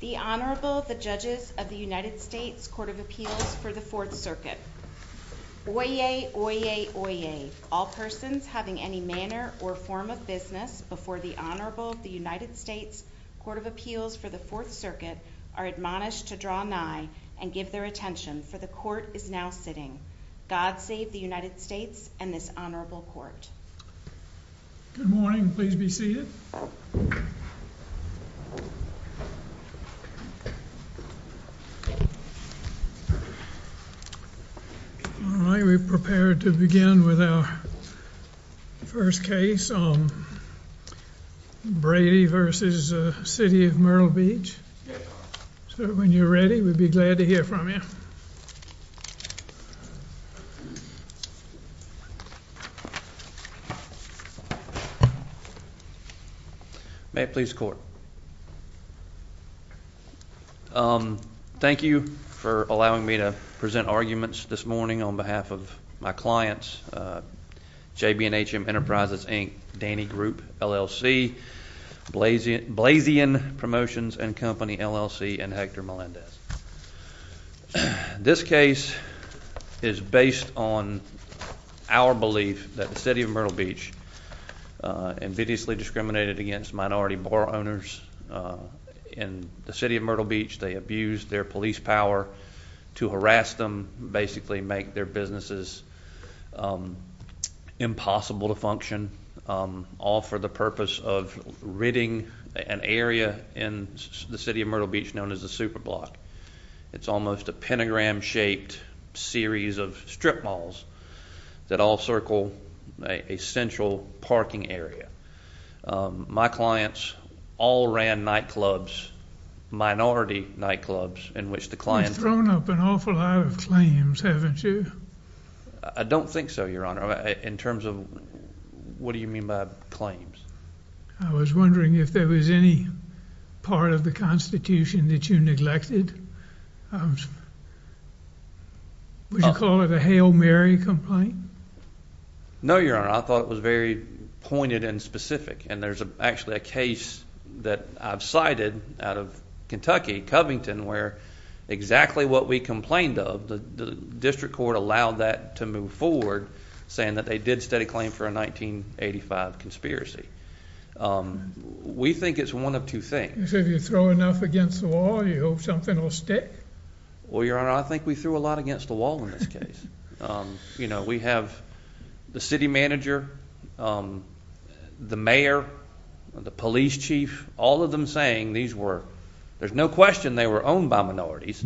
The Honorable, the Judges of the United States Court of Appeals for the Fourth Circuit. Oyez! Oyez! Oyez! All persons having any manner or form of business before the Honorable of the United States Court of Appeals for the Fourth Circuit are admonished to draw nigh and give their attention, for the Court is now sitting. God save the United States and this Honorable Court. Good morning, please be seated. Alright, we're prepared to begin with our first case on Brady v. City of Myrtle Beach. So when you're ready, we'd be glad to hear from you. May it please the Court. Thank you for allowing me to present arguments this morning on behalf of my clients, J.B. and H.M. Enterprises, Inc., Danny Group, LLC, Blazian Promotions and Company, LLC, and Hector Melendez. This case is based on our belief that the City of Myrtle Beach ambitiously discriminated against minority borough owners in the City of Myrtle Beach. They abused their police power to harass them, basically make their businesses impossible to function, all for the purpose of ridding an area in the City of Myrtle Beach known as the Superblock. It's almost a pentagram-shaped series of strip malls that all circle a central parking area. My clients all ran nightclubs, minority nightclubs, in which the clients— You've thrown up an awful lot of claims, haven't you? I don't think so, Your Honor. In terms of—what do you mean by claims? I was wondering if there was any part of the Constitution that you neglected. Would you call it a Hail Mary complaint? No, Your Honor. I thought it was very pointed and specific. And there's actually a case that I've cited out of Kentucky, Covington, where exactly what we complained of, the district court allowed that to move forward, saying that they did set a claim for a 1985 conspiracy. We think it's one of two things. You say if you throw enough against the wall, you hope something will stick? Well, Your Honor, I think we threw a lot against the wall in this case. We have the city manager, the mayor, the police chief, all of them saying these were—there's no question they were owned by minorities.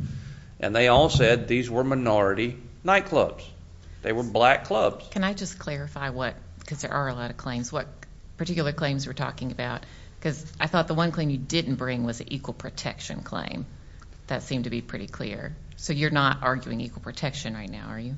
And they all said these were minority nightclubs. They were black clubs. Can I just clarify what—because there are a lot of claims—what particular claims you're talking about? Because I thought the one claim you didn't bring was an equal protection claim. That seemed to be pretty clear. So you're not arguing equal protection right now, are you?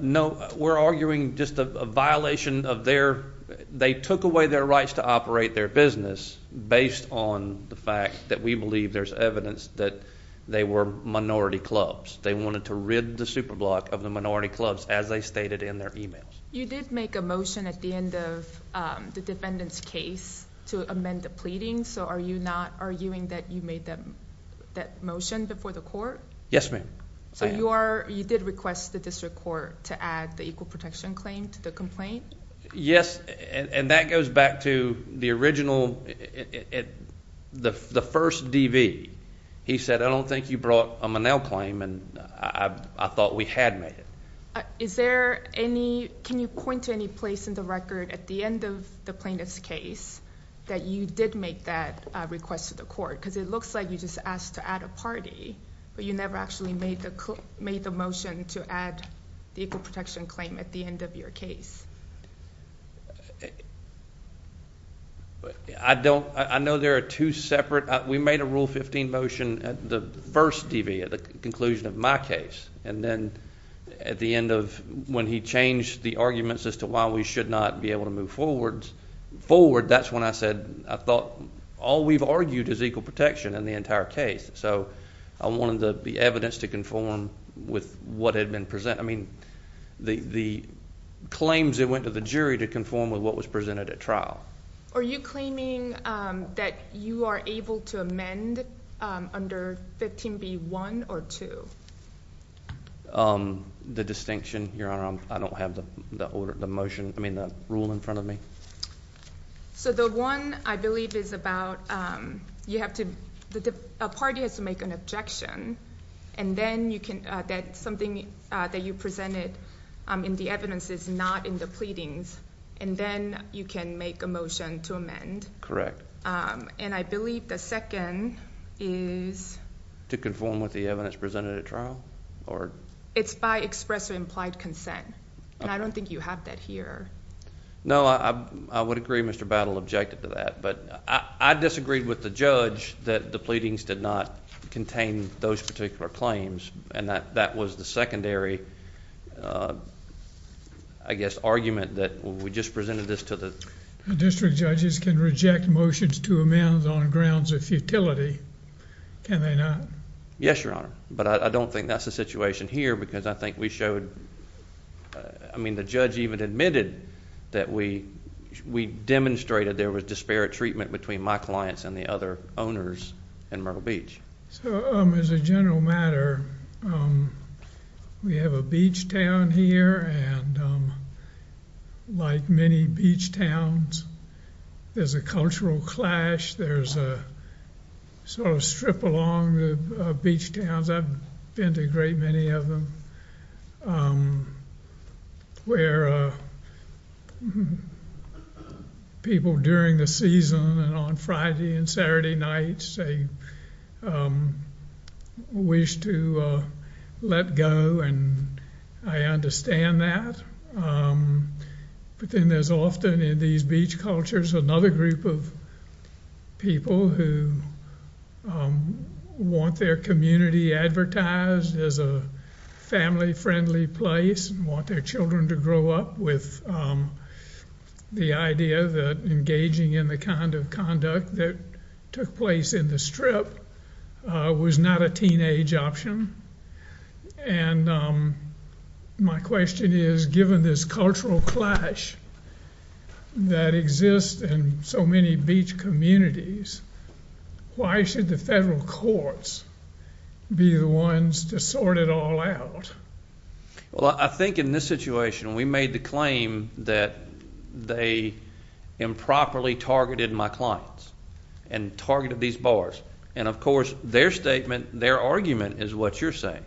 No, we're arguing just a violation of their—they took away their rights to operate their business based on the fact that we believe there's evidence that they were minority clubs. They wanted to rid the Superblock of the minority clubs, as they stated in their emails. You did make a motion at the end of the defendant's case to amend the pleading. So are you not arguing that you made that motion before the court? Yes, ma'am. So you did request the district court to add the equal protection claim to the complaint? Yes, and that goes back to the original—the first DV. He said, I don't think you brought a Monell claim, and I thought we had made it. Is there any—can you point to any place in the record at the end of the plaintiff's case that you did make that request to the court? Because it looks like you just asked to add a party, but you never actually made the motion to add the equal protection claim at the end of your case. I don't—I know there are two separate—we made a Rule 15 motion at the first DV, at the conclusion of my case. And then at the end of—when he changed the arguments as to why we should not be able to move forward, that's when I said I thought all we've argued is equal protection in the entire case. So I wanted the evidence to conform with what had been—I mean, the claims that went to the jury to conform with what was presented at trial. Are you claiming that you are able to amend under 15b1 or 2? The distinction, Your Honor, I don't have the order—the motion—I mean, the rule in front of me. So the one, I believe, is about you have to—a party has to make an objection, and then you can—something that you presented in the evidence is not in the pleadings, and then you can make a motion to amend. Correct. And I believe the second is— To conform with the evidence presented at trial? It's by express or implied consent, and I don't think you have that here. No, I would agree Mr. Battle objected to that. But I disagreed with the judge that the pleadings did not contain those particular claims, and that was the secondary, I guess, argument that we just presented this to the— District judges can reject motions to amend on grounds of futility. Can they not? Yes, Your Honor, but I don't think that's the situation here because I think we showed— I mean, the judge even admitted that we demonstrated there was disparate treatment between my clients and the other owners in Myrtle Beach. So as a general matter, we have a beach town here, and like many beach towns, there's a cultural clash. There's a sort of strip along the beach towns. I've been to a great many of them where people during the season and on Friday and Saturday nights wish to let go, and I understand that. But then there's often in these beach cultures another group of people who want their community advertised as a family-friendly place and want their children to grow up with the idea that engaging in the kind of conduct that took place in the strip was not a teenage option. And my question is, given this cultural clash that exists in so many beach communities, why should the federal courts be the ones to sort it all out? Well, I think in this situation, we made the claim that they improperly targeted my clients and targeted these bars. And of course, their statement, their argument is what you're saying.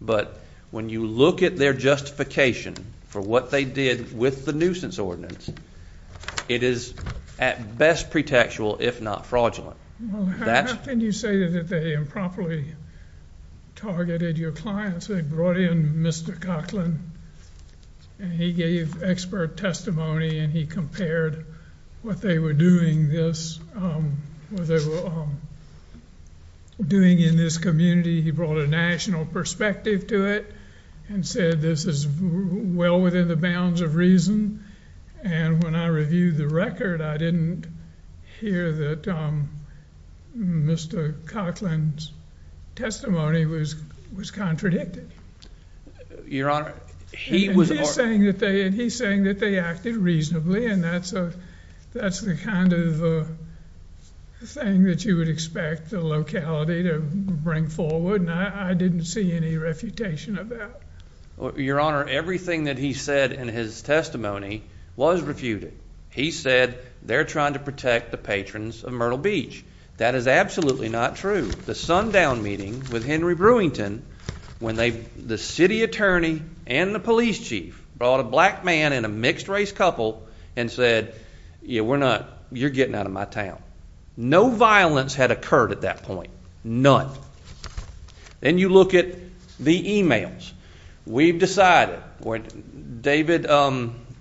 But when you look at their justification for what they did with the nuisance ordinance, it is at best pretextual, if not fraudulent. Well, how can you say that they improperly targeted your clients? They brought in Mr. Coughlin, and he gave expert testimony, and he compared what they were doing in this community. He brought a national perspective to it and said this is well within the bounds of reason. And when I reviewed the record, I didn't hear that Mr. Coughlin's testimony was contradicted. Your Honor, he was – And he's saying that they acted reasonably, and that's the kind of thing that you would expect the locality to bring forward. And I didn't see any refutation of that. Your Honor, everything that he said in his testimony was refuted. He said they're trying to protect the patrons of Myrtle Beach. That is absolutely not true. The sundown meeting with Henry Brewington when they – the city attorney and the police chief brought a black man and a mixed race couple and said, yeah, we're not – you're getting out of my town. No violence had occurred at that point, none. Then you look at the emails. We've decided – David, the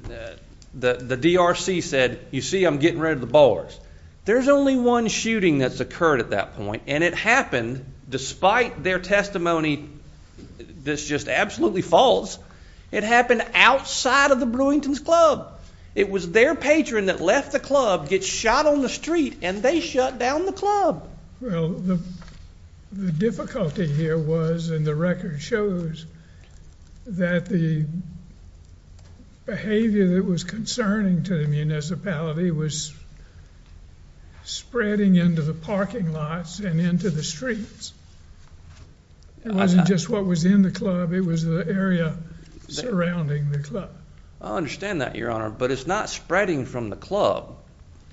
DRC said, you see, I'm getting rid of the bowlers. There's only one shooting that's occurred at that point, and it happened despite their testimony that's just absolutely false. It happened outside of the Brewington's club. It was their patron that left the club, gets shot on the street, and they shut down the club. Well, the difficulty here was, and the record shows, that the behavior that was concerning to the municipality was spreading into the parking lots and into the streets. It wasn't just what was in the club. It was the area surrounding the club. I understand that, Your Honor, but it's not spreading from the club.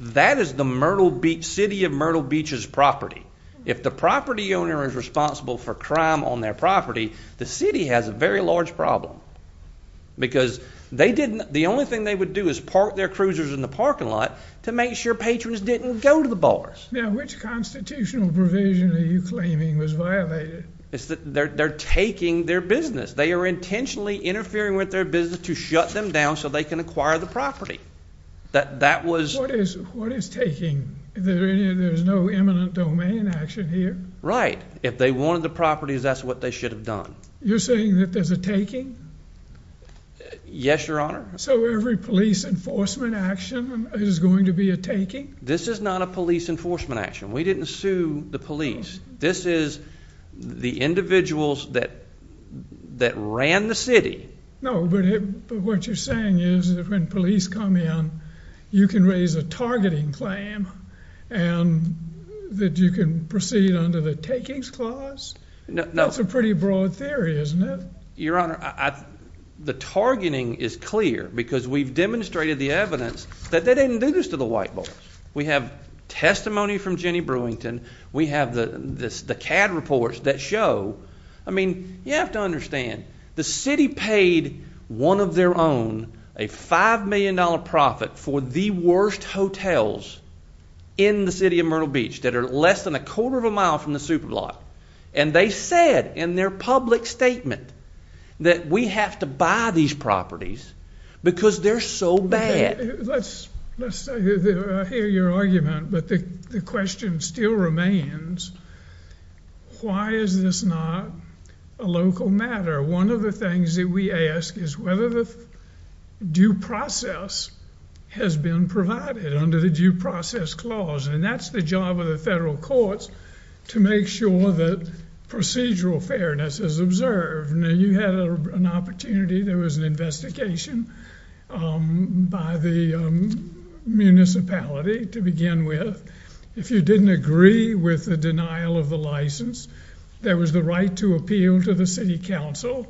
That is the Myrtle Beach – city of Myrtle Beach's property. If the property owner is responsible for crime on their property, the city has a very large problem because they didn't – the only thing they would do is park their cruisers in the parking lot to make sure patrons didn't go to the bars. Now, which constitutional provision are you claiming was violated? It's that they're taking their business. They are intentionally interfering with their business to shut them down so they can acquire the property. That was – What is taking? There's no imminent domain action here? Right. If they wanted the property, that's what they should have done. You're saying that there's a taking? Yes, Your Honor. So every police enforcement action is going to be a taking? This is not a police enforcement action. We didn't sue the police. This is the individuals that ran the city. No, but what you're saying is that when police come in, you can raise a targeting claim and that you can proceed under the takings clause? No. That's a pretty broad theory, isn't it? Your Honor, the targeting is clear because we've demonstrated the evidence that they didn't do this to the white boys. We have testimony from Jenny Brewington. We have the CAD reports that show – I mean, you have to understand. The city paid one of their own a $5 million profit for the worst hotels in the city of Myrtle Beach that are less than a quarter of a mile from the Superblock. And they said in their public statement that we have to buy these properties because they're so bad. I hear your argument, but the question still remains, why is this not a local matter? One of the things that we ask is whether the due process has been provided under the due process clause. And that's the job of the federal courts to make sure that procedural fairness is observed. Now, you had an opportunity. There was an investigation by the municipality to begin with. If you didn't agree with the denial of the license, there was the right to appeal to the city council.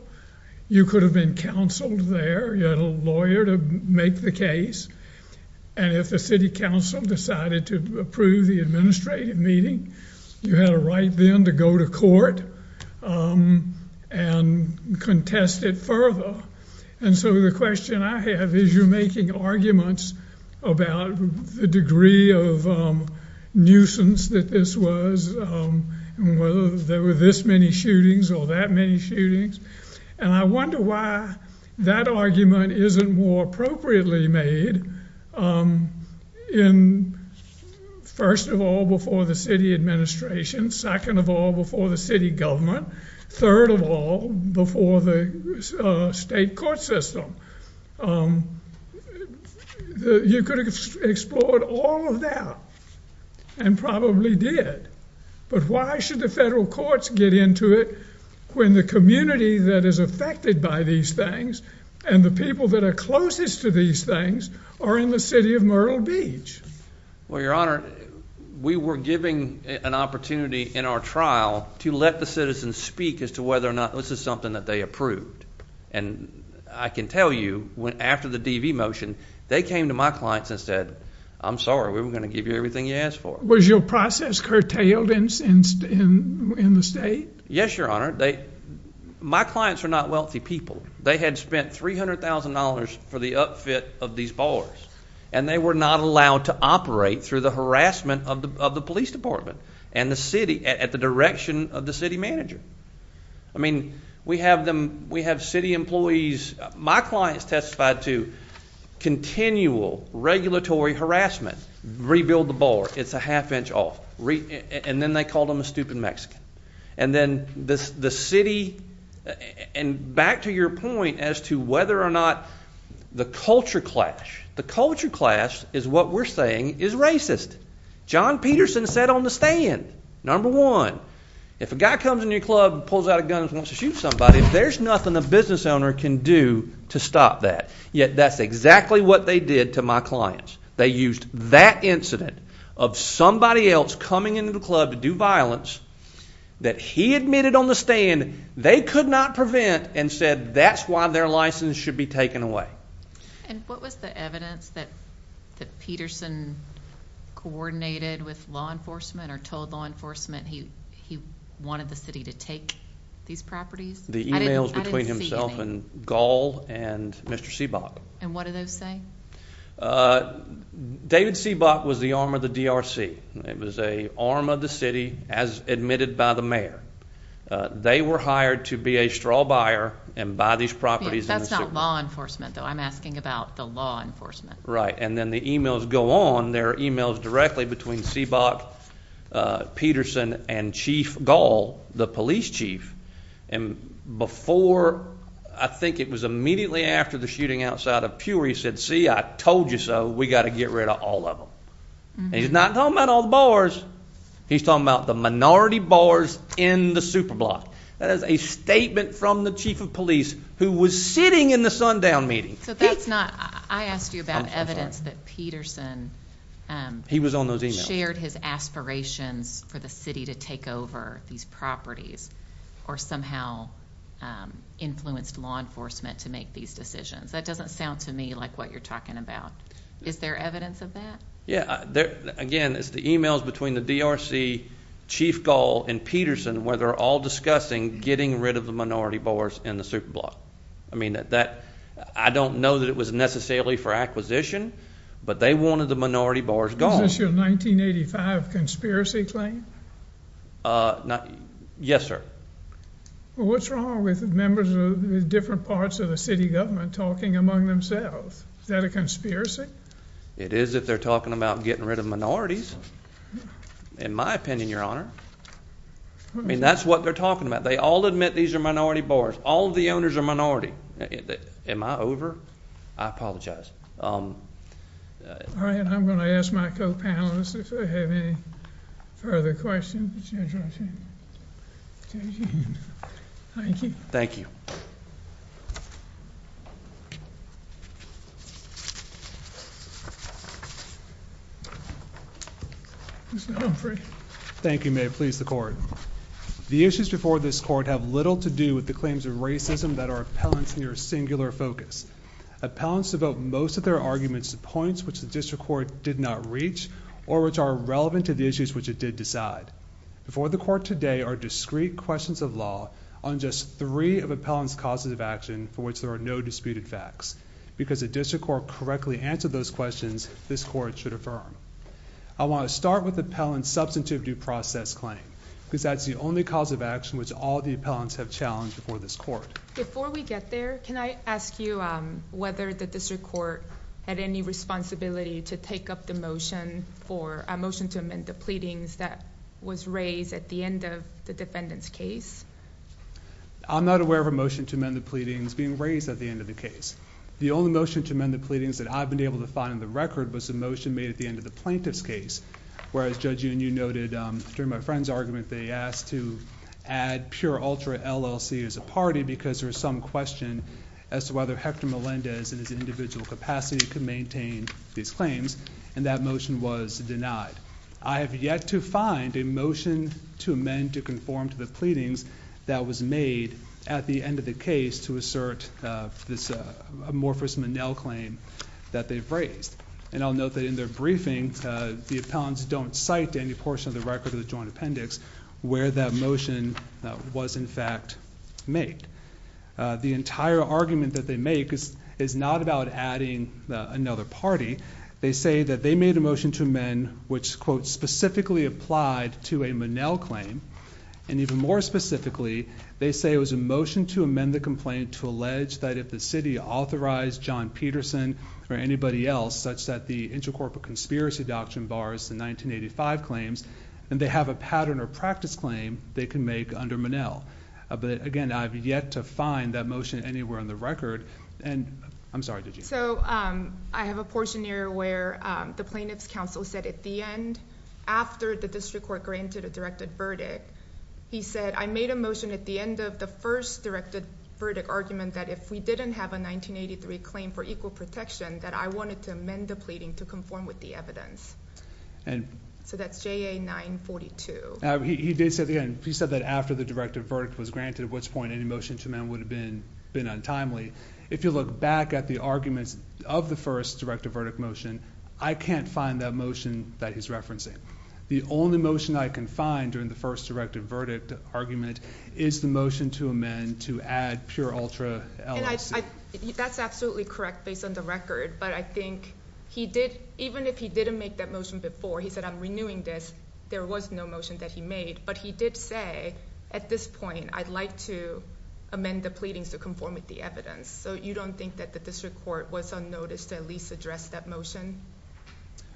You could have been counseled there. You had a lawyer to make the case. And if the city council decided to approve the administrative meeting, you had a right then to go to court and contest it further. And so the question I have is you're making arguments about the degree of nuisance that this was and whether there were this many shootings or that many shootings. And I wonder why that argument isn't more appropriately made in, first of all, before the city administration, second of all, before the city government, third of all, before the state court system. You could have explored all of that and probably did. But why should the federal courts get into it when the community that is affected by these things and the people that are closest to these things are in the city of Myrtle Beach? Well, Your Honor, we were given an opportunity in our trial to let the citizens speak as to whether or not this is something that they approved. And I can tell you after the DV motion, they came to my clients and said, I'm sorry, we were going to give you everything you asked for. Was your process curtailed in the state? Yes, Your Honor. My clients are not wealthy people. They had spent $300,000 for the upfit of these bars, and they were not allowed to operate through the harassment of the police department and the city at the direction of the city manager. I mean, we have them. We have city employees. My clients testified to continual regulatory harassment. Rebuild the bar. It's a half inch off. And then they called him a stupid Mexican. And then the city. And back to your point as to whether or not the culture clash. The culture clash is what we're saying is racist. John Peterson said on the stand. Number one, if a guy comes in your club and pulls out a gun and wants to shoot somebody, there's nothing a business owner can do to stop that. Yet that's exactly what they did to my clients. They used that incident of somebody else coming into the club to do violence that he admitted on the stand they could not prevent and said that's why their license should be taken away. And what was the evidence that Peterson coordinated with law enforcement or told law enforcement he wanted the city to take these properties? The e-mails between himself and Gall and Mr. Seabock. And what did they say? David Seabock was the arm of the DRC. It was an arm of the city as admitted by the mayor. They were hired to be a straw buyer and buy these properties. That's not law enforcement, though. I'm asking about the law enforcement. And then the e-mails go on. There are e-mails directly between Seabock, Peterson, and Chief Gall, the police chief. And before, I think it was immediately after the shooting outside of Pewry, he said, see, I told you so. We've got to get rid of all of them. And he's not talking about all the bars. He's talking about the minority bars in the Superblock. That is a statement from the chief of police who was sitting in the sundown meeting. So that's not – I asked you about evidence that Peterson shared his aspirations for the city to take over these properties or somehow influenced law enforcement to make these decisions. That doesn't sound to me like what you're talking about. Is there evidence of that? Yeah. Again, it's the e-mails between the DRC, Chief Gall, and Peterson where they're all discussing getting rid of the minority bars in the Superblock. I mean, that – I don't know that it was necessarily for acquisition, but they wanted the minority bars gone. Is this your 1985 conspiracy claim? Yes, sir. Well, what's wrong with members of the different parts of the city government talking among themselves? Is that a conspiracy? It is if they're talking about getting rid of minorities, in my opinion, Your Honor. I mean, that's what they're talking about. They all admit these are minority bars. All of the owners are minority. Am I over? I apologize. All right. I'm going to ask my co-panelists if they have any further questions. Thank you. Thank you. Mr. Humphrey. Thank you, Mayor. Please, the Court. The issues before this Court have little to do with the claims of racism that are appellants near singular focus. Appellants devote most of their arguments to points which the District Court did not reach or which are relevant to the issues which it did decide. Before the Court today are discrete questions of law on just three of appellants' causes of action for which there are no disputed facts. Because the District Court correctly answered those questions, this Court should affirm. I want to start with appellant's substantive due process claim because that's the only cause of action which all the appellants have challenged before this Court. Before we get there, can I ask you whether the District Court had any responsibility to take up the motion for a motion to amend the pleadings that was raised at the end of the defendant's case? I'm not aware of a motion to amend the pleadings being raised at the end of the case. The only motion to amend the pleadings that I've been able to find in the record was the motion made at the end of the plaintiff's case, whereas Judge Union noted during my friend's argument they asked to add pure ultra LLC as a party because there was some question as to whether Hector Melendez in his individual capacity could maintain these claims, and that motion was denied. I have yet to find a motion to amend to conform to the pleadings that was made at the end of the case to assert this amorphous Monell claim that they've raised. And I'll note that in their briefing, the appellants don't cite any portion of the record of the joint appendix where that motion was in fact made. The entire argument that they make is not about adding another party. They say that they made a motion to amend which, quote, specifically applied to a Monell claim. And even more specifically, they say it was a motion to amend the complaint to allege that if the city authorized John Peterson or anybody else, such that the Intercorporate Conspiracy Doctrine bars the 1985 claims, then they have a pattern or practice claim they can make under Monell. But again, I've yet to find that motion anywhere in the record. And I'm sorry, did you? So I have a portion here where the plaintiff's counsel said at the end, after the district court granted a directed verdict, he said, I made a motion at the end of the first directed verdict argument that if we didn't have a 1983 claim for equal protection, that I wanted to amend the pleading to conform with the evidence. So that's JA 942. He did say at the end, he said that after the directed verdict was granted, at which point any motion to amend would have been untimely. If you look back at the arguments of the first directed verdict motion, I can't find that motion that he's referencing. The only motion I can find during the first directed verdict argument is the motion to amend to add pure ultra LLC. And that's absolutely correct based on the record. But I think he did, even if he didn't make that motion before, he said, I'm renewing this, there was no motion that he made. But he did say at this point, I'd like to amend the pleadings to conform with the evidence. So you don't think that the district court was unnoticed to at least address that motion?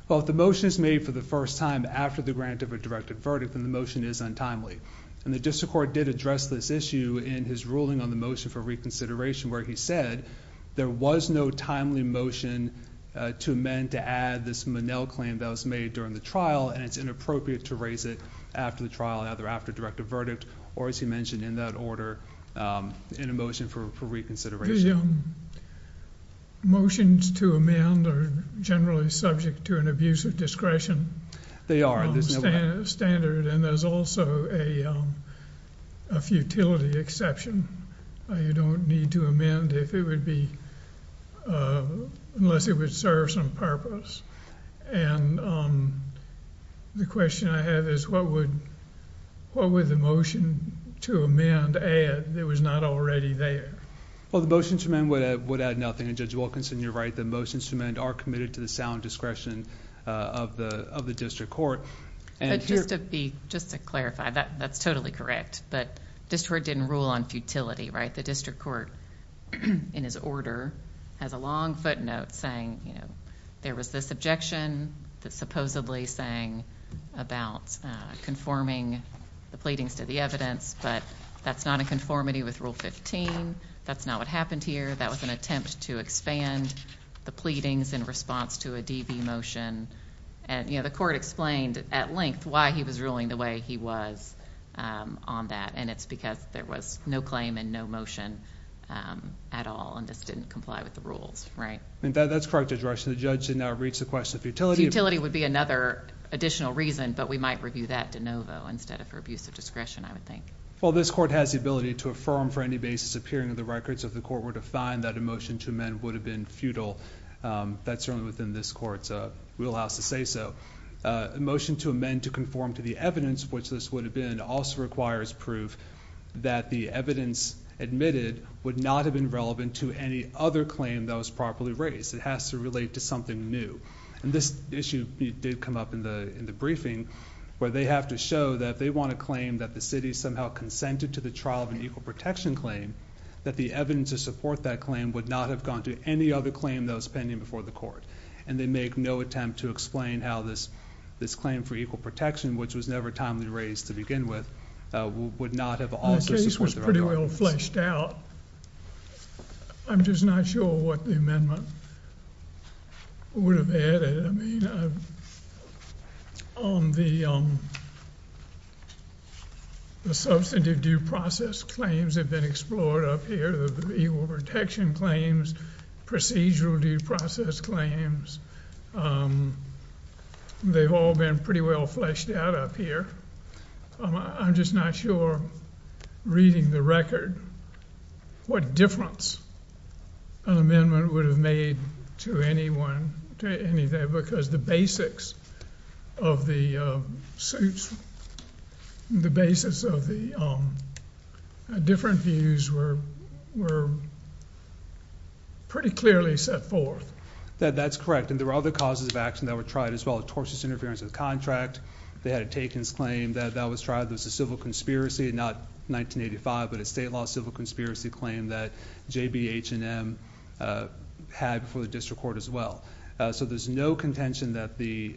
Well, if the motion is made for the first time after the grant of a directed verdict, then the motion is untimely. And the district court did address this issue in his ruling on the motion for reconsideration, where he said there was no timely motion to amend, to add this Monell claim that was made during the trial. And it's inappropriate to raise it after the trial, either after a directed verdict, or as he mentioned, in that order, in a motion for reconsideration. The motions to amend are generally subject to an abuse of discretion. They are. Standard. And there's also a futility exception. You don't need to amend if it would be... unless it would serve some purpose. And the question I have is, what would the motion to amend add that was not already there? Well, the motion to amend would add nothing. And Judge Wilkinson, you're right. The motions to amend are committed to the sound discretion of the district court. Just to clarify, that's totally correct. But district court didn't rule on futility, right? The district court, in his order, has a long footnote saying there was this objection that supposedly sang about conforming the pleadings to the evidence. But that's not a conformity with Rule 15. That's not what happened here. That was an attempt to expand the pleadings in response to a DV motion. The court explained at length why he was ruling the way he was on that, and it's because there was no claim and no motion at all and just didn't comply with the rules, right? That's correct, Judge Rush. The judge did not reach the question of futility. Futility would be another additional reason, but we might review that de novo instead of for abuse of discretion, I would think. Well, this court has the ability to affirm for any basis appearing in the records of the court were to find that a motion to amend would have been futile. That's certainly within this court's wheelhouse to say so. A motion to amend to conform to the evidence, which this would have been, also requires proof that the evidence admitted would not have been relevant to any other claim that was properly raised. It has to relate to something new. And this issue did come up in the briefing where they have to show that they want to claim that the city somehow consented to the trial of an equal protection claim, that the evidence to support that claim would not have gone to any other claim that was pending before the court. And they make no attempt to explain how this claim for equal protection, which was never timely raised to begin with, would not have also supported their arguments. The case was pretty well fleshed out. I'm just not sure what the amendment would have added. I mean, the substantive due process claims have been explored up here. The equal protection claims, procedural due process claims, they've all been pretty well fleshed out up here. I'm just not sure, reading the record, what difference an amendment would have made to anyone, to anything, because the basics of the suits, the basis of the different views were pretty clearly set forth. That's correct. And there were other causes of action that were tried as well. Tortious interference with contract. They had a takings claim that that was tried. There was a civil conspiracy, not 1985, but a state law civil conspiracy claim that J.B., H&M had before the district court as well. So there's no contention that the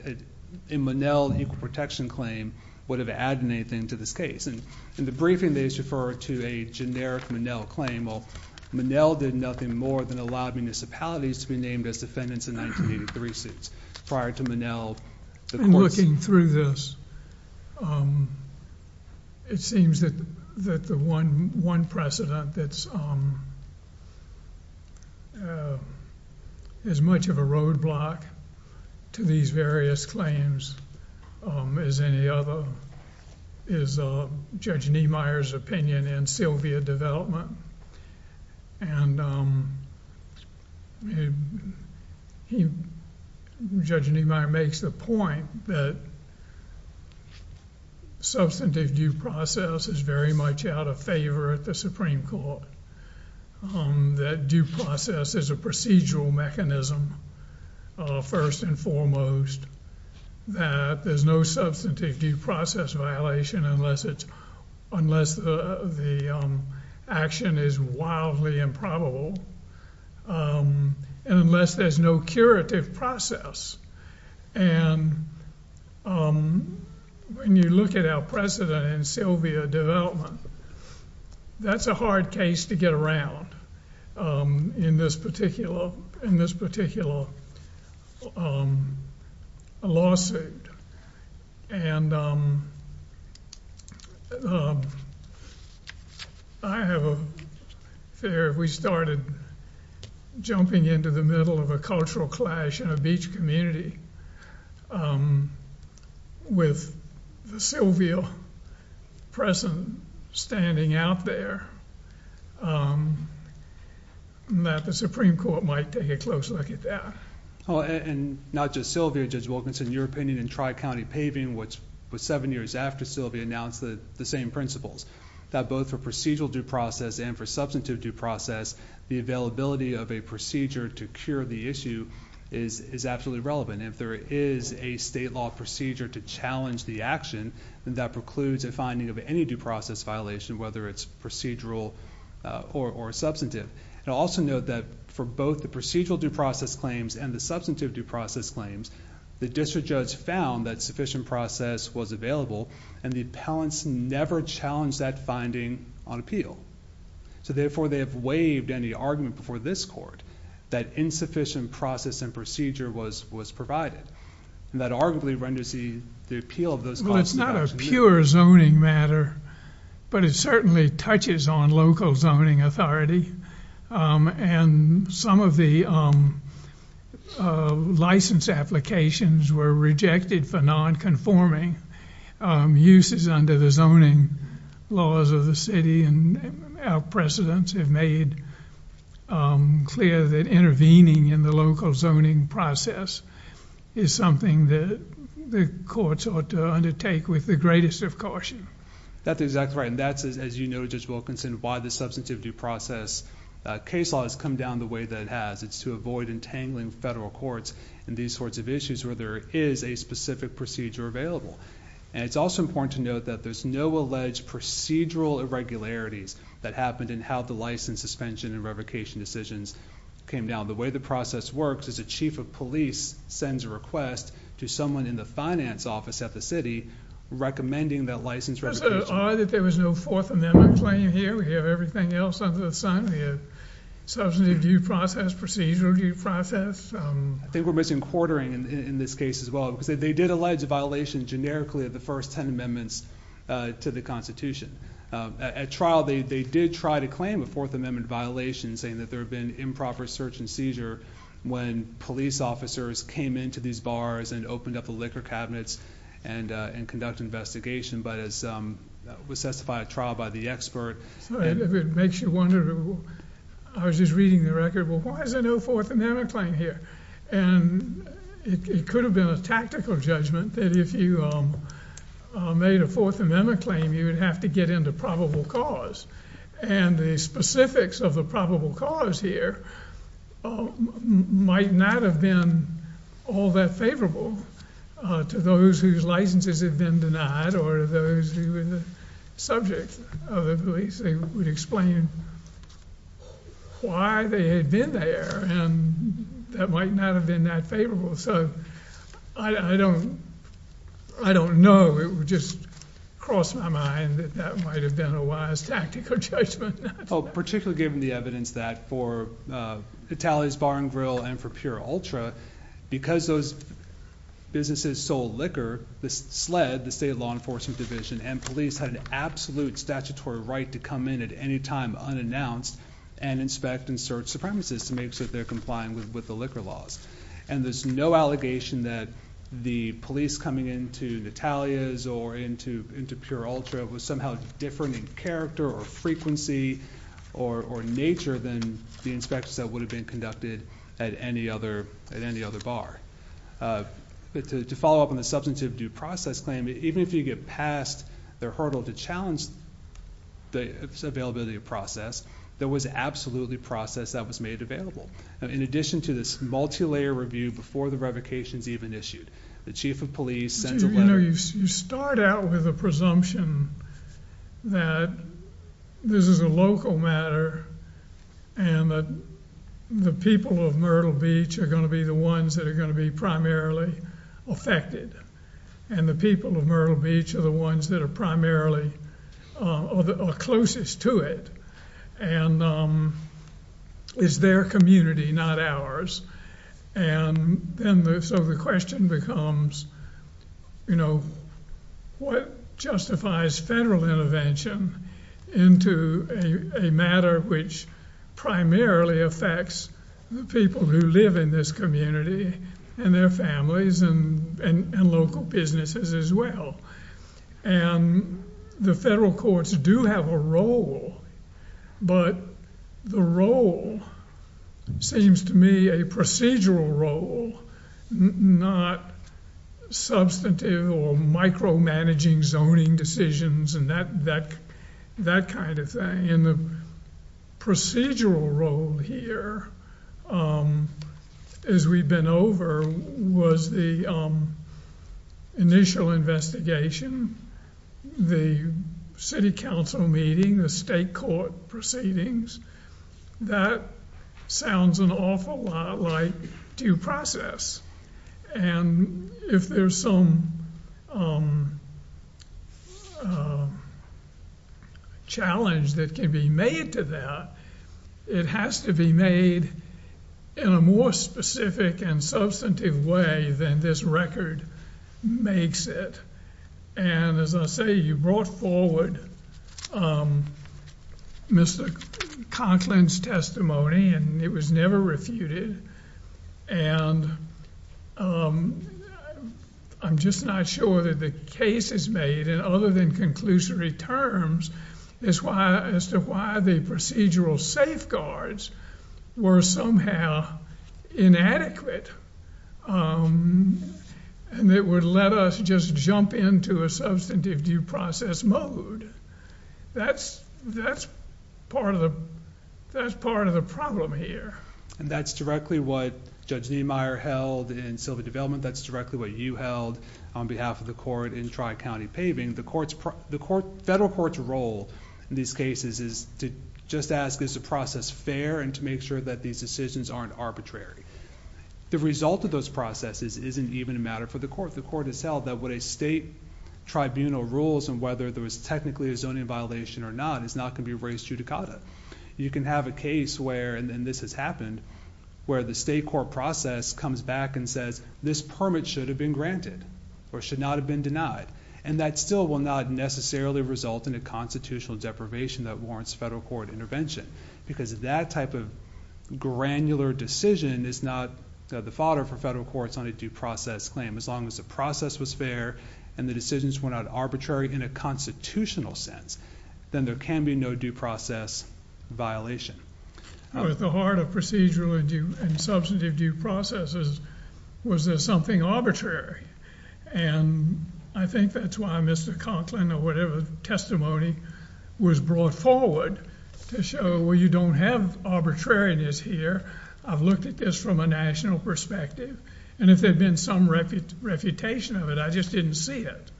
Monell equal protection claim would have added anything to this case. In the briefing, they just refer to a generic Monell claim. Well, Monell did nothing more than allow municipalities to be named as defendants in 1983 suits. Prior to Monell, the courts- Looking through this, it seems that the one precedent that's as much of a roadblock to these various claims as any other is Judge Niemeyer's opinion in Sylvia Development. And Judge Niemeyer makes the point that substantive due process is very much out of favor at the Supreme Court. That due process is a procedural mechanism, first and foremost. That there's no substantive due process violation unless the action is wildly improbable. And unless there's no curative process. And when you look at our precedent in Sylvia Development, that's a hard case to get around in this particular lawsuit. And I have a fear if we started jumping into the middle of a cultural clash in a beach community, with Sylvia present, standing out there, that the Supreme Court might take a close look at that. And not just Sylvia, Judge Wilkinson, your opinion in Tri-County Paving, which was seven years after Sylvia announced the same principles. That both for procedural due process and for substantive due process, the availability of a procedure to cure the issue is absolutely relevant. And if there is a state law procedure to challenge the action, then that precludes a finding of any due process violation, whether it's procedural or substantive. And I'll also note that for both the procedural due process claims and the substantive due process claims, the district judge found that sufficient process was available. And the appellants never challenged that finding on appeal. So therefore, they have waived any argument before this court that insufficient process and procedure was provided. And that arguably renders the appeal of those calls to action. Well, it's not a pure zoning matter, but it certainly touches on local zoning authority. And some of the license applications were rejected for non-conforming uses under the zoning laws of the city. And our precedents have made clear that intervening in the local zoning process is something that the courts ought to undertake with the greatest of caution. That's exactly right. And that's, as you know, Judge Wilkinson, why the substantive due process case law has come down the way that it has. It's to avoid entangling federal courts in these sorts of issues where there is a specific procedure available. And it's also important to note that there's no alleged procedural irregularities that happened in how the license suspension and revocation decisions came down. The way the process works is a chief of police sends a request to someone in the finance office at the city recommending that license revocation. Is it odd that there was no Fourth Amendment claim here? We have everything else under the sun. We have substantive due process, procedural due process. I think we're missing quartering in this case as well. Because they did allege a violation generically of the first ten amendments to the Constitution. At trial, they did try to claim a Fourth Amendment violation saying that there had been improper search and seizure when police officers came into these bars and opened up the liquor cabinets and conducted investigation. But as was testified at trial by the expert. It makes you wonder. I was just reading the record. Well, why is there no Fourth Amendment claim here? And it could have been a tactical judgment that if you made a Fourth Amendment claim, you would have to get into probable cause. And the specifics of the probable cause here might not have been all that favorable to those whose licenses had been denied or those who were the subject of the police. They would explain why they had been there. And that might not have been that favorable. So I don't know. It just crossed my mind that that might have been a wise tactical judgment. Particularly given the evidence that for Itali's Bar and Grill and for Pure Ultra, because those businesses sold liquor, the SLED, the State Law Enforcement Division, and police had an absolute statutory right to come in at any time unannounced and inspect and search the premises to make sure they're complying with the liquor laws. And there's no allegation that the police coming into Natalia's or into Pure Ultra was somehow different in character or frequency or nature than the inspections that would have been conducted at any other bar. But to follow up on the substantive due process claim, even if you get past the hurdle to challenge the availability of process, there was absolutely process that was made available. In addition to this multi-layer review before the revocations even issued, the chief of police sent a letter. You start out with a presumption that this is a local matter and that the people of Myrtle Beach are going to be the ones that are going to be primarily affected and the people of Myrtle Beach are the ones that are primarily closest to it. And it's their community, not ours. And so the question becomes, you know, what justifies federal intervention into a matter which primarily affects the people who live in this community and their families and local businesses as well? And the federal courts do have a role, but the role seems to me a procedural role, not substantive or micromanaging zoning decisions and that kind of thing. And the procedural role here, as we've been over, was the initial investigation, the city council meeting, the state court proceedings. That sounds an awful lot like due process. And if there's some challenge that can be made to that, it has to be made in a more specific and substantive way than this record makes it. And as I say, you brought forward Mr. Conklin's testimony, and it was never refuted. And I'm just not sure that the case is made in other than conclusory terms as to why the procedural safeguards were somehow inadequate and it would let us just jump into a substantive due process mode. That's part of the problem here. And that's directly what Judge Niemeyer held in Sylvia Development. That's directly what you held on behalf of the court in Tri-County Paving. The federal court's role in these cases is to just ask is the process fair and to make sure that these decisions aren't arbitrary. The result of those processes isn't even a matter for the court. The court has held that what a state tribunal rules and whether there was technically a zoning violation or not is not going to be raised judicata. You can have a case where, and this has happened, where the state court process comes back and says this permit should have been granted or should not have been denied. And that still will not necessarily result in a constitutional deprivation that warrants federal court intervention because that type of granular decision is not the fodder for federal courts on a due process claim as long as the process was fair and the decisions were not arbitrary in a constitutional sense, then there can be no due process violation. At the heart of procedural and substantive due processes was there something arbitrary. And I think that's why Mr. Conklin or whatever testimony was brought forward to show you don't have arbitrariness here. I've looked at this from a national perspective. And if there had been some refutation of it, I just didn't see it.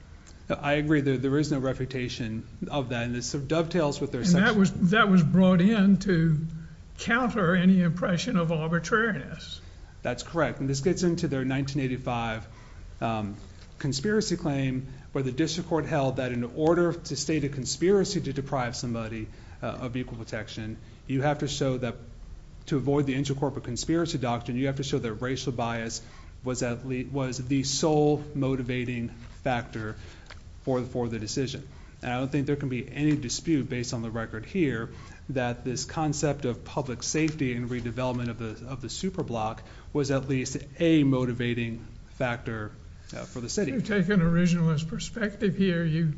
I agree. There is no refutation of that. And this dovetails with their section. And that was brought in to counter any impression of arbitrariness. That's correct. And this gets into their 1985 conspiracy claim where the district court held that in order to state a conspiracy to deprive somebody of equal protection, you have to show that to avoid the intercorporate conspiracy doctrine, you have to show that racial bias was the sole motivating factor for the decision. And I don't think there can be any dispute based on the record here that this concept of public safety and redevelopment of the superblock was at least a motivating factor for the city. To take an originalist perspective here, you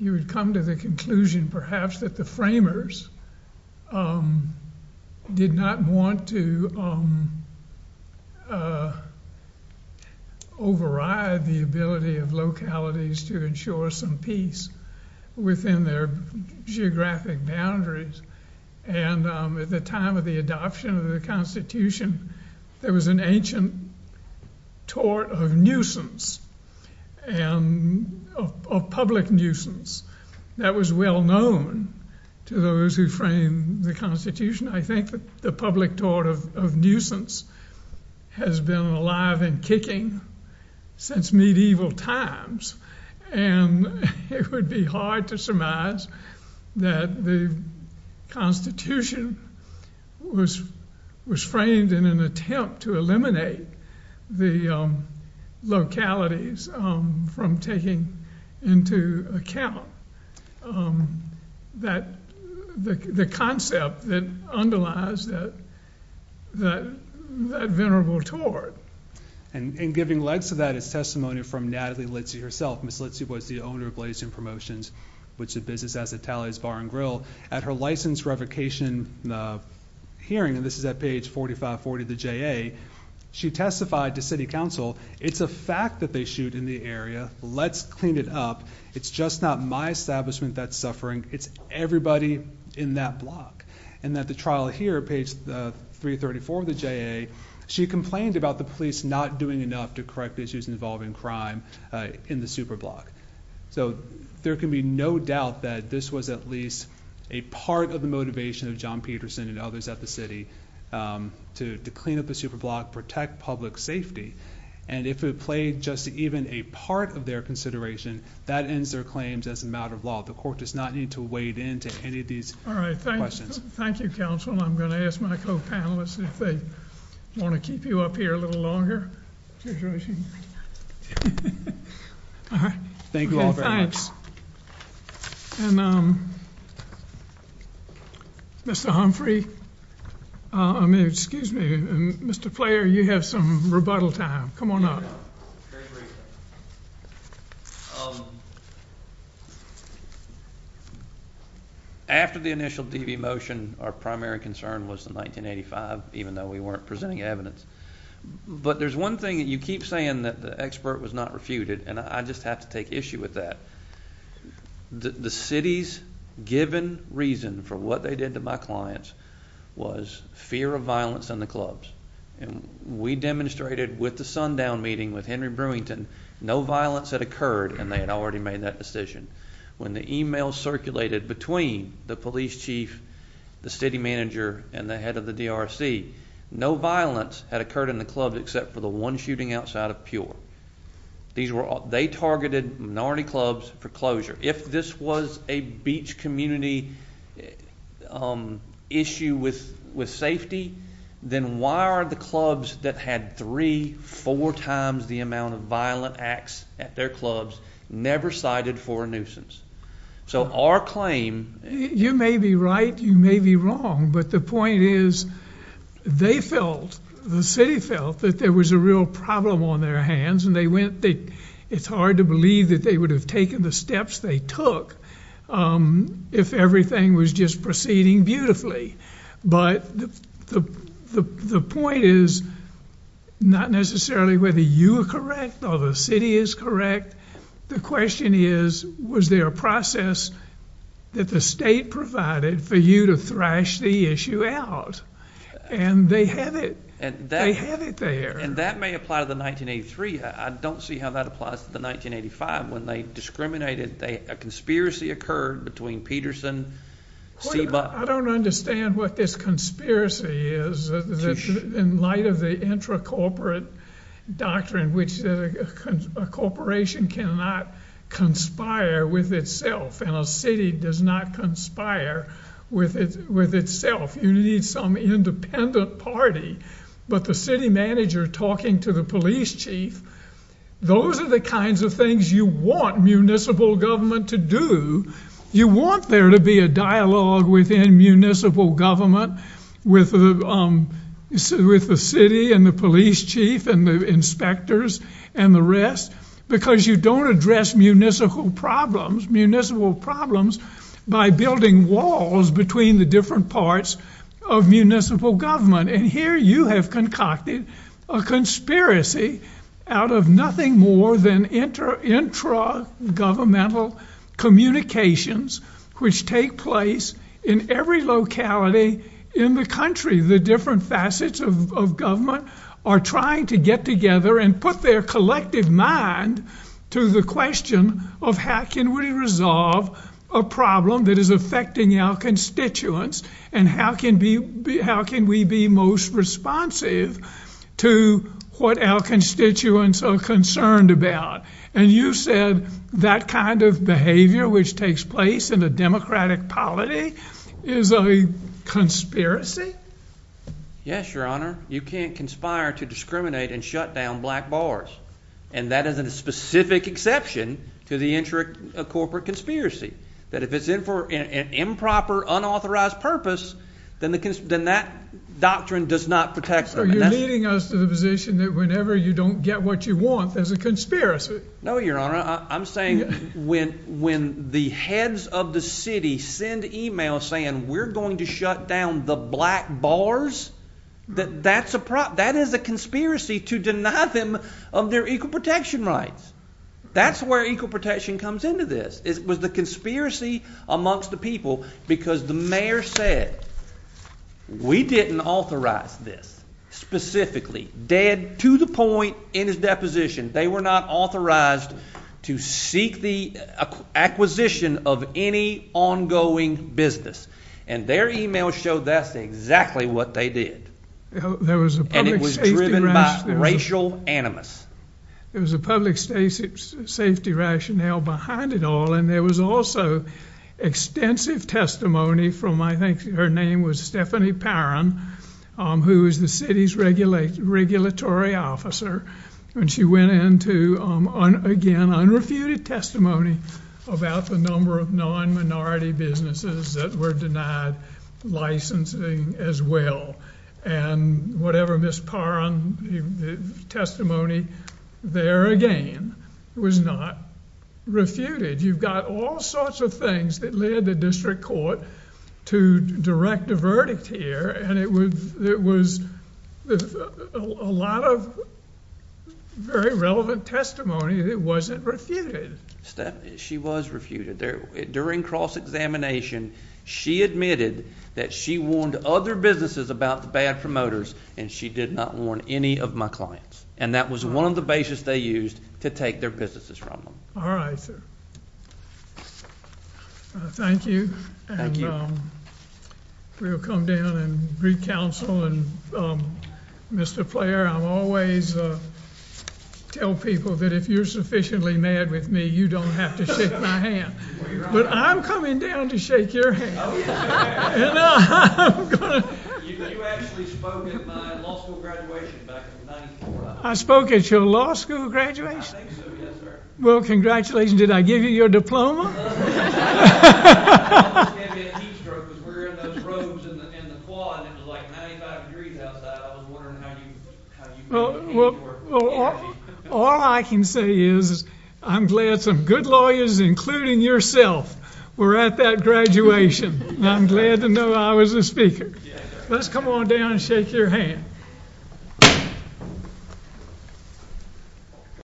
would come to the conclusion perhaps that the framers did not want to override the ability of localities to ensure some peace within their geographic boundaries. And at the time of the adoption of the Constitution, there was an ancient tort of public nuisance that was well known to those who framed the Constitution. I think the public tort of nuisance has been alive and kicking since medieval times. And it would be hard to surmise that the Constitution was framed in an attempt to eliminate the localities from taking into account the concept that underlies that venerable tort. And giving legs to that is testimony from Natalie Litzy herself. Ms. Litzy was the owner of Blazin Promotions, which is a business as a tallies bar and grill. At her license revocation hearing, and this is at page 4540 of the JA, she testified to city council, it's a fact that they shoot in the area. Let's clean it up. It's just not my establishment that's suffering. It's everybody in that block. And at the trial here, page 334 of the JA, she complained about the police not doing enough to correct issues involving crime in the superblock. So there can be no doubt that this was at least a part of the motivation of John Peterson and others at the city to clean up the superblock, protect public safety. And if it played just even a part of their consideration, that ends their claims as a matter of law. The court does not need to wade into any of these questions. All right. Thank you, counsel. I'm going to ask my co-panelists if they want to keep you up here a little longer. All right. Thank you all very much. And Mr. Humphrey, I mean, excuse me, Mr. Player, you have some rebuttal time. Come on up. After the initial DV motion, our primary concern was the 1985, even though we weren't presenting evidence. But there's one thing that you keep saying that the expert was not refuted, and I just have to take issue with that. The city's given reason for what they did to my clients was fear of violence in the clubs. And we demonstrated with the sundown meeting with Henry Brewington no violence had occurred, and they had already made that decision. When the email circulated between the police chief, the city manager, and the head of the DRC, no violence had occurred in the clubs except for the one shooting outside of Pure. They targeted minority clubs for closure. If this was a beach community issue with safety, then why are the clubs that had three, four times the amount of violent acts at their clubs never cited for a nuisance? So our claim... You may be right, you may be wrong, but the point is they felt, the city felt that there was a real problem on their hands, and it's hard to believe that they would have taken the steps they took if everything was just proceeding beautifully. But the point is not necessarily whether you are correct or the city is correct. The question is, was there a process that the state provided for you to thrash the issue out? And they had it. They had it there. And that may apply to the 1983. I don't see how that applies to the 1985 when they discriminated. A conspiracy occurred between Peterson, Seba... I don't understand what this conspiracy is in light of the intracorporate doctrine which a corporation cannot conspire with itself, and a city does not conspire with itself. You need some independent party, but the city manager talking to the police chief, those are the kinds of things you want municipal government to do. You want there to be a dialogue within municipal government with the city and the police chief and the inspectors and the rest because you don't address municipal problems by building walls between the different parts of municipal government. And here you have concocted a conspiracy out of nothing more than intragovernmental communications which take place in every locality in the country. The different facets of government are trying to get together and put their collective mind to the question of how can we resolve a problem that is affecting our constituents and how can we be most responsive to what our constituents are concerned about. And you said that kind of behavior which takes place in a democratic polity is a conspiracy? Yes, Your Honor. You can't conspire to discriminate and shut down black bars. And that is a specific exception to the intracorporate conspiracy. That if it's for an improper, unauthorized purpose, then that doctrine does not protect us. So you're leading us to the position that whenever you don't get what you want, there's a conspiracy. No, Your Honor. I'm saying when the heads of the city send emails saying we're going to shut down the black bars, that is a conspiracy to deny them of their equal protection rights. That's where equal protection comes into this. It was the conspiracy amongst the people because the mayor said we didn't authorize this specifically. Dead to the point in his deposition, they were not authorized to seek the acquisition of any ongoing business. And their email showed that's exactly what they did. And it was driven by racial animus. There was a public safety rationale behind it all, and there was also extensive testimony from, I think her name was Stephanie Parron, who is the city's regulatory officer. And she went into, again, unrefuted testimony about the number of non-minority businesses that were denied licensing as well. And whatever Ms. Parron's testimony there, again, was not refuted. You've got all sorts of things that led the district court to direct a verdict here, and it was a lot of very relevant testimony that wasn't refuted. She was refuted. During cross-examination, she admitted that she warned other businesses about the bad promoters, and she did not warn any of my clients. And that was one of the bases they used to take their businesses from them. All right, sir. Thank you. Thank you. We'll come down and recounsel. Mr. Player, I always tell people that if you're sufficiently mad with me, you don't have to shake my hand. But I'm coming down to shake your hand. Oh, yeah. You actually spoke at my law school graduation back in 1994. I spoke at your law school graduation? I think so, yes, sir. Well, congratulations. Did I give you your diploma? I almost gave you a heat stroke because we were in those robes in the quad, and it was, like, 95 degrees outside. I was wondering how you came to work. All I can say is I'm glad some good lawyers, including yourself, were at that graduation, and I'm glad to know I was a speaker. Let's come on down and shake your hand.